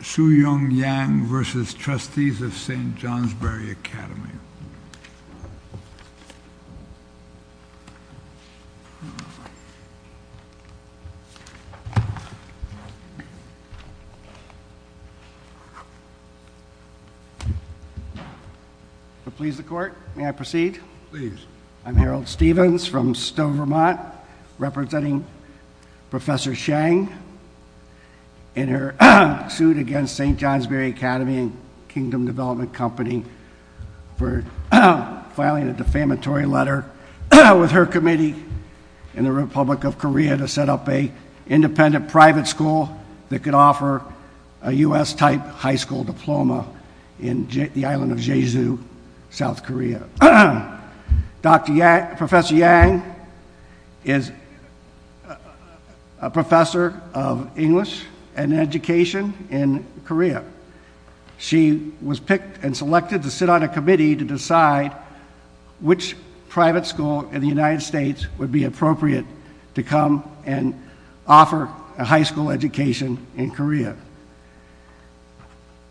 v. Trustees of St. Johnsbury Academy. I'm Harold Stevens from Stowe, Vermont, representing Professor Chang in her suit against St. Johnsbury Academy and Kingdom Development Company for filing a defamatory letter with her committee in the Republic of Korea to set up a independent private school that could offer a US-type high school diploma in the island of Jeju, South Korea. Professor Yang is a professor of education in Korea. She was picked and selected to sit on a committee to decide which private school in the United States would be appropriate to come and offer a high school education in Korea.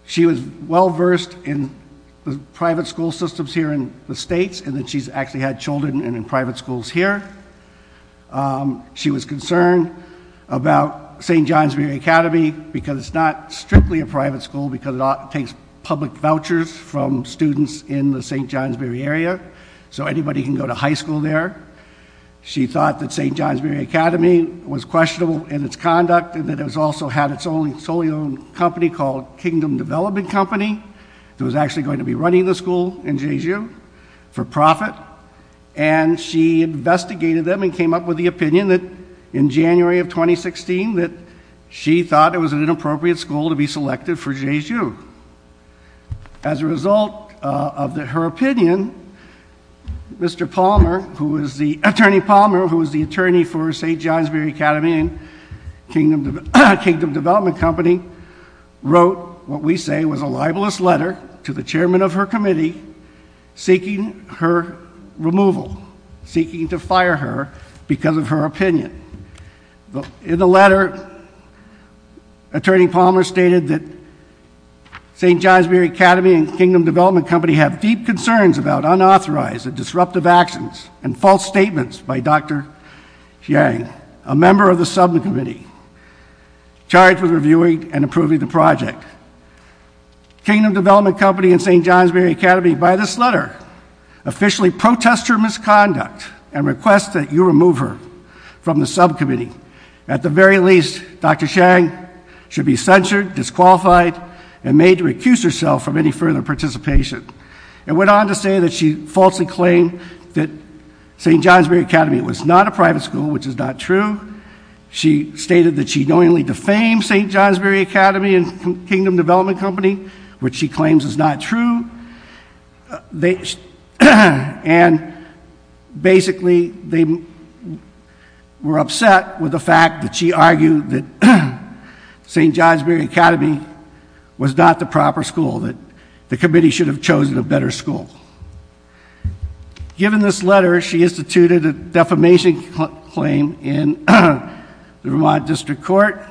She was well-versed in the private school systems here in the States and that she's actually had children in because it's not strictly a private school because it takes public vouchers from students in the St. Johnsbury area so anybody can go to high school there. She thought that St. Johnsbury Academy was questionable in its conduct and that it also had its own company called Kingdom Development Company that was actually going to be running the school in Jeju for profit and she investigated them and came up with the opinion that in January of 2016 that she thought it was an inappropriate school to be selected for Jeju. As a result of her opinion, Mr. Palmer, who is the attorney Palmer who is the attorney for St. Johnsbury Academy and Kingdom Development Company wrote what we say was a libelous letter to the chairman of her committee seeking her removal, seeking to Attorney Palmer stated that St. Johnsbury Academy and Kingdom Development Company have deep concerns about unauthorized and disruptive actions and false statements by Dr. Chiang, a member of the subcommittee charged with reviewing and approving the project. Kingdom Development Company and St. Johnsbury Academy by this letter officially protest her misconduct and request that you remove her from the subcommittee. At the very least, Dr. Chiang should be censured, disqualified and made to recuse herself from any further participation. It went on to say that she falsely claimed that St. Johnsbury Academy was not a private school, which is not true. She stated that she knowingly defamed St. Johnsbury Academy and Kingdom Development Company, which she claims is not true. They and basically they were upset with the fact that she argued that St. Johnsbury Academy was not the proper school, that the committee should have chosen a better school. Given this letter, she instituted a defamation claim in the Vermont District Court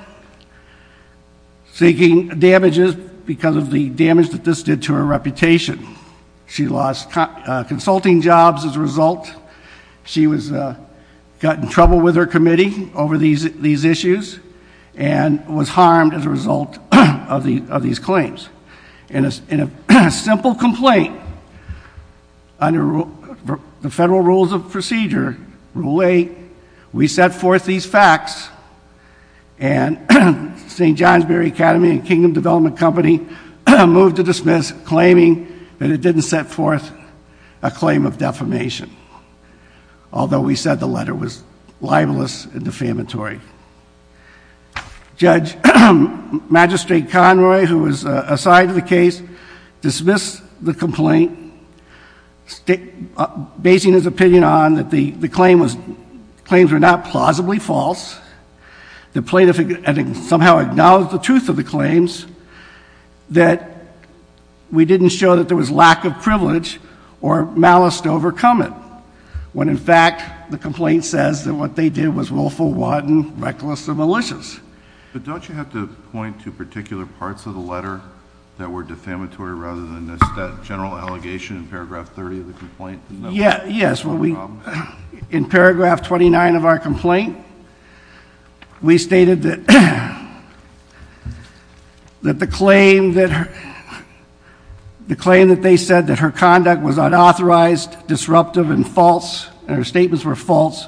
seeking damages because of the damage that this did to her reputation. She lost consulting jobs as a result. She was got in trouble with her committee over these issues and was harmed as a result of these claims. In a simple complaint under the federal rules of procedure, Rule 8, we set forth these facts and St. Johnsbury Academy and Kingdom Development Company moved to dismiss, claiming that it didn't set forth a claim of defamation. Although we said the letter was libelous and defamatory. Judge Magistrate Conroy, who was assigned to the case, dismissed the complaint, basing his opinion on that the claims were not plausibly false. The plaintiff had somehow acknowledged the truth of the claims, that we didn't show that there was lack of privilege or malice to overcome it. When in fact, the complaint says that what they did was willful, wadden, reckless, and malicious. But don't you have to point to particular parts of the letter that were defamatory rather than just that general allegation in paragraph 30 of the complaint? Yes, in paragraph 29 of our conduct was unauthorized, disruptive, and false, and her statements were false,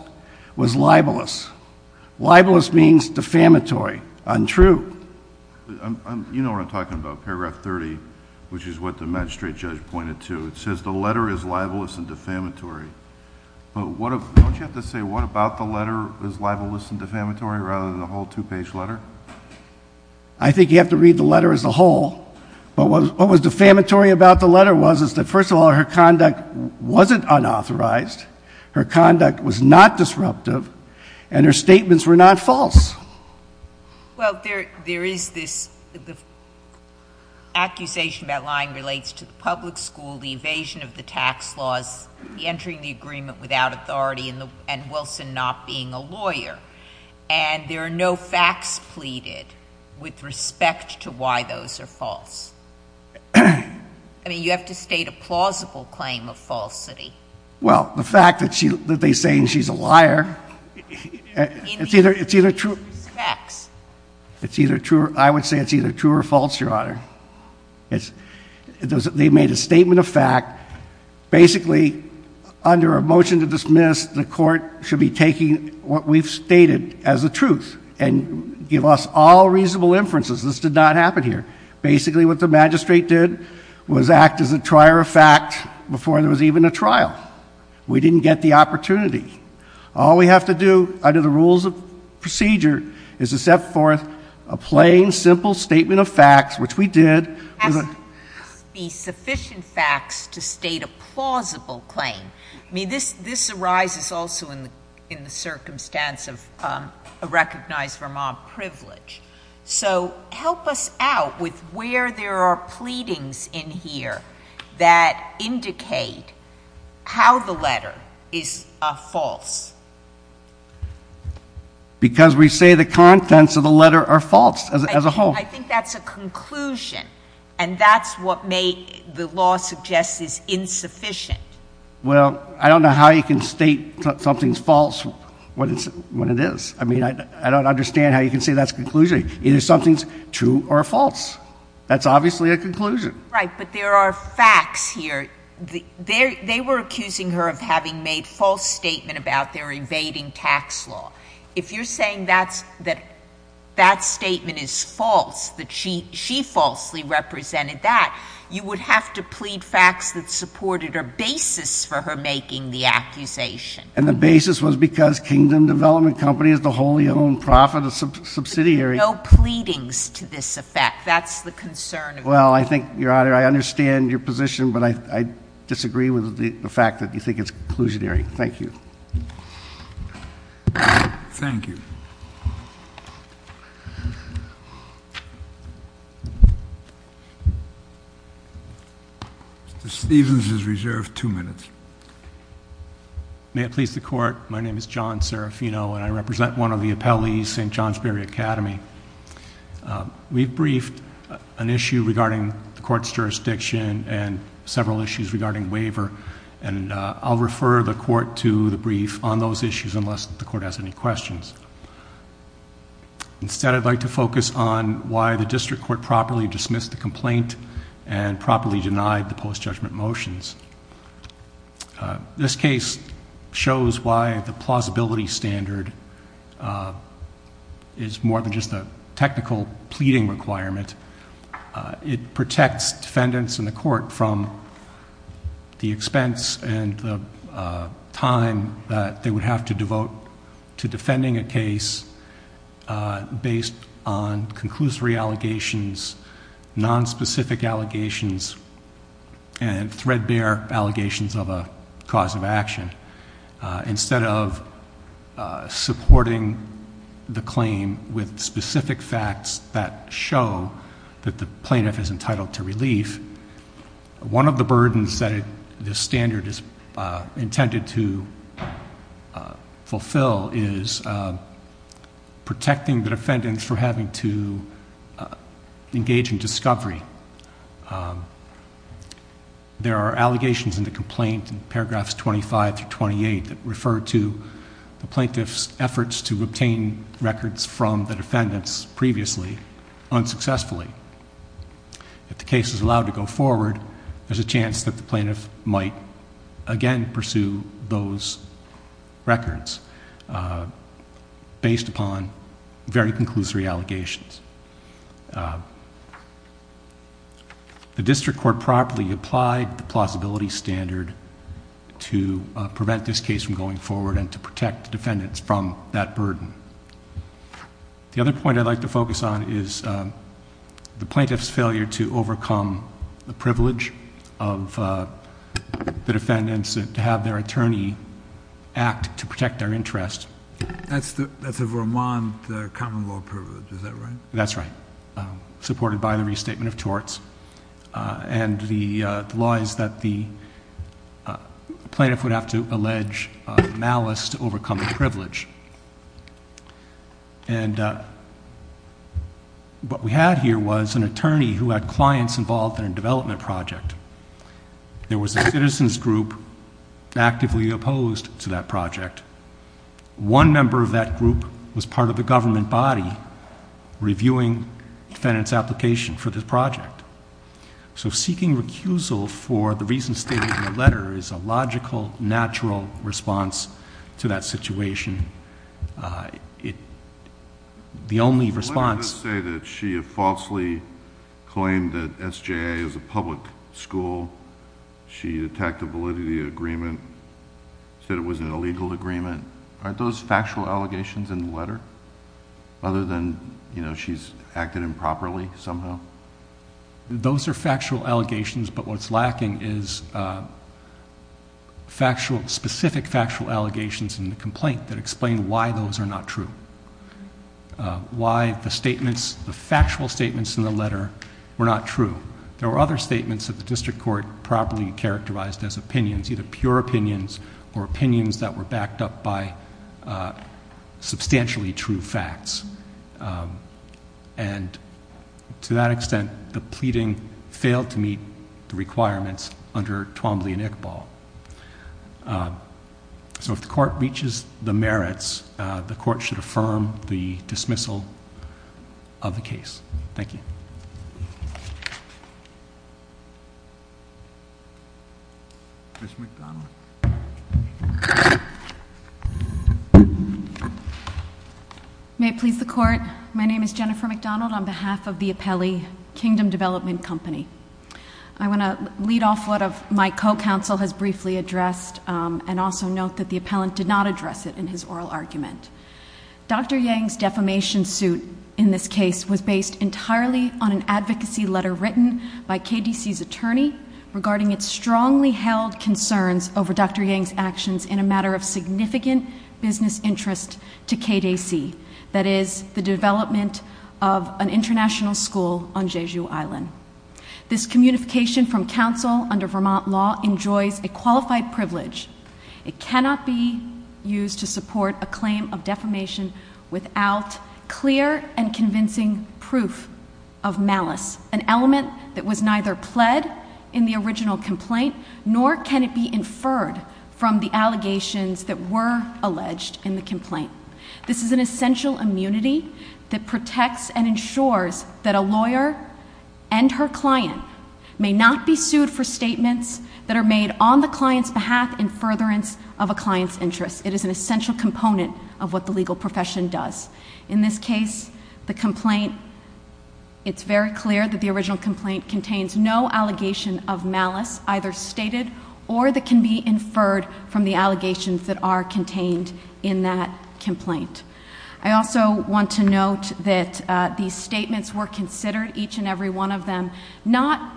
was libelous. Libelous means defamatory, untrue. You know what I'm talking about, paragraph 30, which is what the magistrate judge pointed to. It says the letter is libelous and defamatory. Don't you have to say what about the letter is libelous and defamatory rather than the whole two-page letter? I think you have to read the letter as a whole, but what was defamatory about the letter was is that first of all, her conduct wasn't unauthorized, her conduct was not disruptive, and her statements were not false. Well, there is this accusation that line relates to the public school, the evasion of the tax laws, the entering the agreement without authority, and Wilson not being a lawyer. And there are no facts pleaded with respect to why those are false. I mean, you have to state a plausible claim of falsity. Well, the fact that she, that they're saying she's a liar, it's either, it's either true, it's either true, I would say it's either true or false, Your Honor. It's, they made a statement of fact, basically under a reasonable inference, and give us all reasonable inferences. This did not happen here. Basically what the magistrate did was act as a trier of fact before there was even a trial. We didn't get the opportunity. All we have to do under the rules of procedure is to set forth a plain, simple statement of facts, which we did. It has to be sufficient facts to state a plausible claim. I mean, this, this arises also in the, in the circumstance of a recognized Vermont privilege. So help us out with where there are pleadings in here that indicate how the letter is false. Because we say the contents of the letter are false as a, as a whole. I think that's a conclusion, and that's what may, the law suggests is insufficient. Well, I don't know how you can state something's false when it's, when it is. I mean, I, I don't understand how you can say that's a conclusion. Either something's true or false. That's obviously a conclusion. Right, but there are facts here. The, they, they were accusing her of having made false statement about their evading tax law. If you're saying that's, that that statement is false, that she, she falsely represented that, you would have to make the accusation. And the basis was because Kingdom Development Company is the wholly owned profit, a subsidiary. There are no pleadings to this effect. That's the concern. Well, I think, Your Honor, I understand your position, but I, I disagree with the fact that you think it's conclusionary. Thank you. Thank you. Mr. Stevens is reserved two minutes. May it please the Court. My name is John Serafino, and I represent one of the appellees, St. Johnsbury Academy. We've briefed an issue regarding the Court's jurisdiction and several issues regarding waiver, and I'll refer the Court to the brief on those issues unless the Court has any questions. Instead, I'd like to focus on why the District Court properly dismissed the complaint and properly denied the post-judgment motions. This case shows why the plausibility standard is more than just a technical pleading requirement. It protects defendants in the Court from the expense and the time that they would have to devote to defending a case based on conclusory allegations, nonspecific allegations, and threadbare allegations of a cause of action. Instead of supporting the claim with specific facts that show that the plaintiff is entitled to relief, one of the burdens that this standard is intended to fulfill is protecting the defendants from having to engage in discovery. There are allegations in the complaint in paragraphs 25 to 28 that refer to the plaintiff's efforts to obtain records from the defendants previously unsuccessfully. If the case is again pursue those records based upon very conclusory allegations. The District Court properly applied the plausibility standard to prevent this case from going forward and to protect defendants from that burden. The other point I'd like to focus on is the plaintiff's failure to overcome the privilege of the defendants to have their attorney act to protect their interest. That's a Vermont common law privilege, is that right? That's right. Supported by the restatement of torts. And the law is that the plaintiff would have to have clients involved in a development project. There was a citizen's group actively opposed to that project. One member of that group was part of the government body reviewing defendants' application for this project. So seeking recusal for the reason stated in the letter is a logical, natural response to that situation. The only response- She claimed that SJA is a public school. She attacked a validity agreement, said it was an illegal agreement. Aren't those factual allegations in the letter? Other than she's acted improperly somehow? Those are factual allegations, but what's lacking is specific factual allegations in the complaint that explain why those are not true. Why the factual statements in the letter were not true. There were other statements that the district court properly characterized as opinions, either pure opinions or opinions that were backed up by substantially true facts. And to that extent, the pleading failed to meet the requirements under Twombly and Iqbal. So if the court reaches the merits, the court should affirm the dismissal of the case. Thank you. May it please the Court, my name is Jennifer McDonald on behalf of the Appellee Kingdom Development Company. I want to lead off what my co-counsel has briefly addressed and also note that the appellant did not address it in his oral argument. Dr. Yang's defamation suit in this case was based entirely on an advocacy letter written by KDC's attorney regarding its strongly held concerns over Dr. Yang's actions in a matter of significant business interest to KDC, that is the development of an international school on Jeju Island. This communication from counsel under Vermont law enjoys a qualified privilege. It cannot be used to support a claim of defamation without clear and convincing proof of malice, an element that was neither pled in the original complaint nor can it be inferred from the allegations that were alleged in the complaint. This is an essential immunity that protects and ensures that a lawyer and her client may not be sued for statements that are made on the client's behalf in furtherance of a client's interest. It is an essential component of what the legal profession does. In this case, the complaint, it's very clear that the original complaint contains no allegation of malice either stated or that can be inferred from the allegations that are contained in that complaint. I also want to note that these statements were considered each and every one of them, not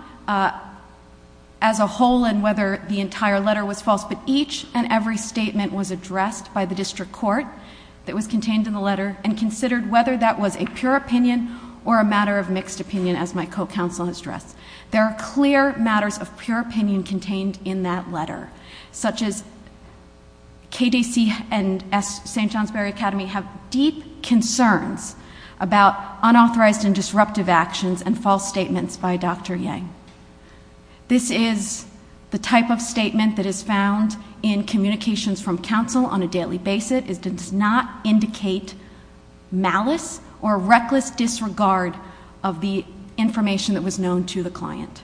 as a whole and whether the entire letter was false, but each and every statement was addressed by the district court that was contained in the letter and considered whether that was a pure opinion or a matter of mixed opinion as my co-counsel has KDC and St. Johnsbury Academy have deep concerns about unauthorized and disruptive actions and false statements by Dr. Yang. This is the type of statement that is found in communications from counsel on a daily basis. It does not indicate malice or reckless disregard of the information that was known to the client.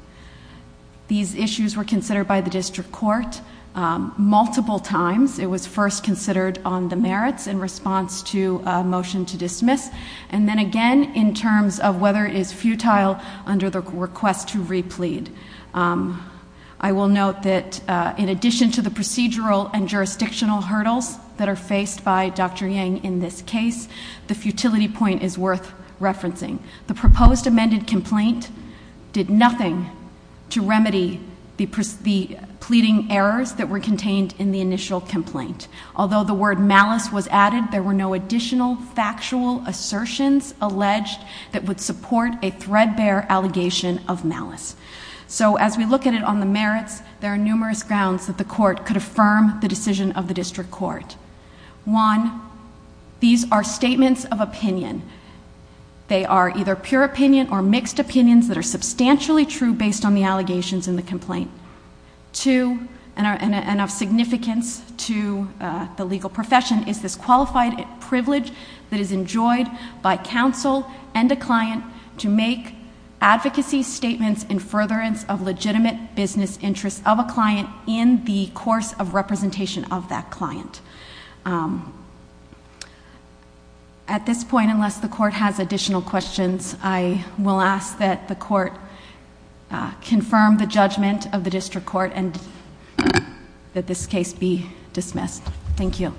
These issues were considered by the district court multiple times. It was first considered on the merits in response to a motion to dismiss and then again in terms of whether it is futile under the request to re-plead. I will note that in addition to the procedural and jurisdictional hurdles that are faced by Dr. Yang in this case, the futility point is worth referencing. The proposed amended complaint did nothing to remedy the pleading errors that were contained in the initial complaint. Although the word malice was added, there were no additional factual assertions alleged that would support a threadbare allegation of malice. So as we look at it on the merits, there are numerous grounds that the court could affirm the decision of the district court. One, these are statements of opinion. They are either pure opinion or mixed opinions that are substantially true based on the allegations in the complaint. Two, and of significance to the legal profession, is this qualified privilege that is enjoyed by counsel and a client to make advocacy statements in furtherance of legitimate business interests of a client in the course of representation of that client. At this point, unless the court has additional questions, I will ask that the court confirm the judgment of the district court and that this case be dismissed. Thank you.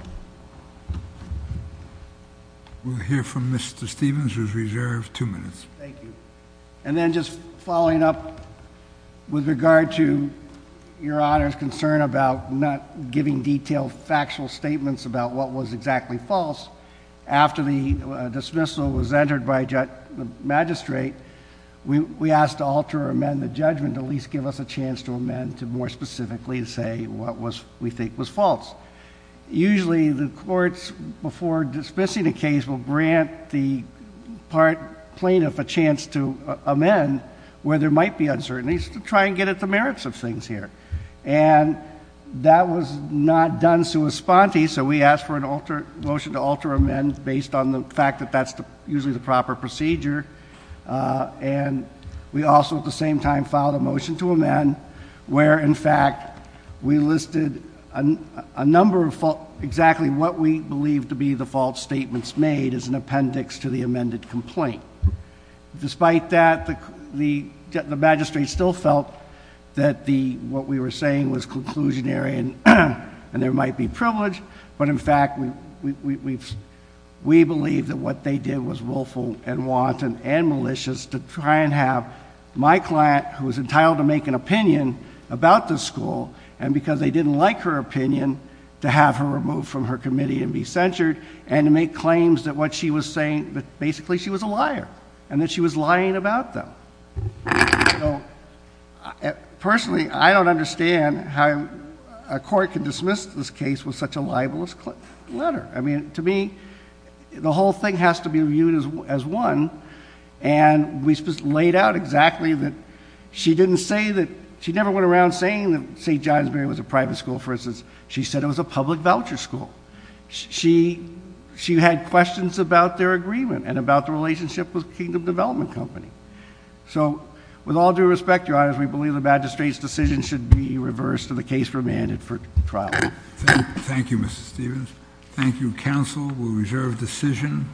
We'll hear from Mr. Stevens, who's reserved two minutes. Thank you. And then just following up with regard to your Honor's concern about not giving detail factual statements about what was exactly false, after the dismissal was entered by the magistrate, we asked to alter or amend the judgment to at least give us a chance to amend to more specifically say what we think was false. Usually the courts, before dismissing a case, will grant the plaintiff a chance to amend where there might be uncertainties to try and get at the merits of the plaintiff. So we asked for a motion to alter or amend based on the fact that that's usually the proper procedure, and we also at the same time filed a motion to amend where in fact we listed a number of exactly what we believe to be the false statements made as an appendix to the amended complaint. Despite that, the magistrate still felt that what we were saying was but in fact we believe that what they did was willful and wanton and malicious to try and have my client, who was entitled to make an opinion about this school, and because they didn't like her opinion, to have her removed from her committee and be censured, and to make claims that what she was saying that basically she was a liar, and that she was lying about them. So personally, I don't dismiss this case with such a libelous letter. I mean, to me, the whole thing has to be viewed as one, and we just laid out exactly that she didn't say that she never went around saying that St. Johnsbury was a private school. For instance, she said it was a public voucher school. She had questions about their agreement and about the relationship with Kingdom Development Company. So with all due respect, Your Honor, we believe the magistrate's decision should be reversed and the case remanded for trial. Thank you, Mr. Stevens. Thank you, counsel. We reserve decision.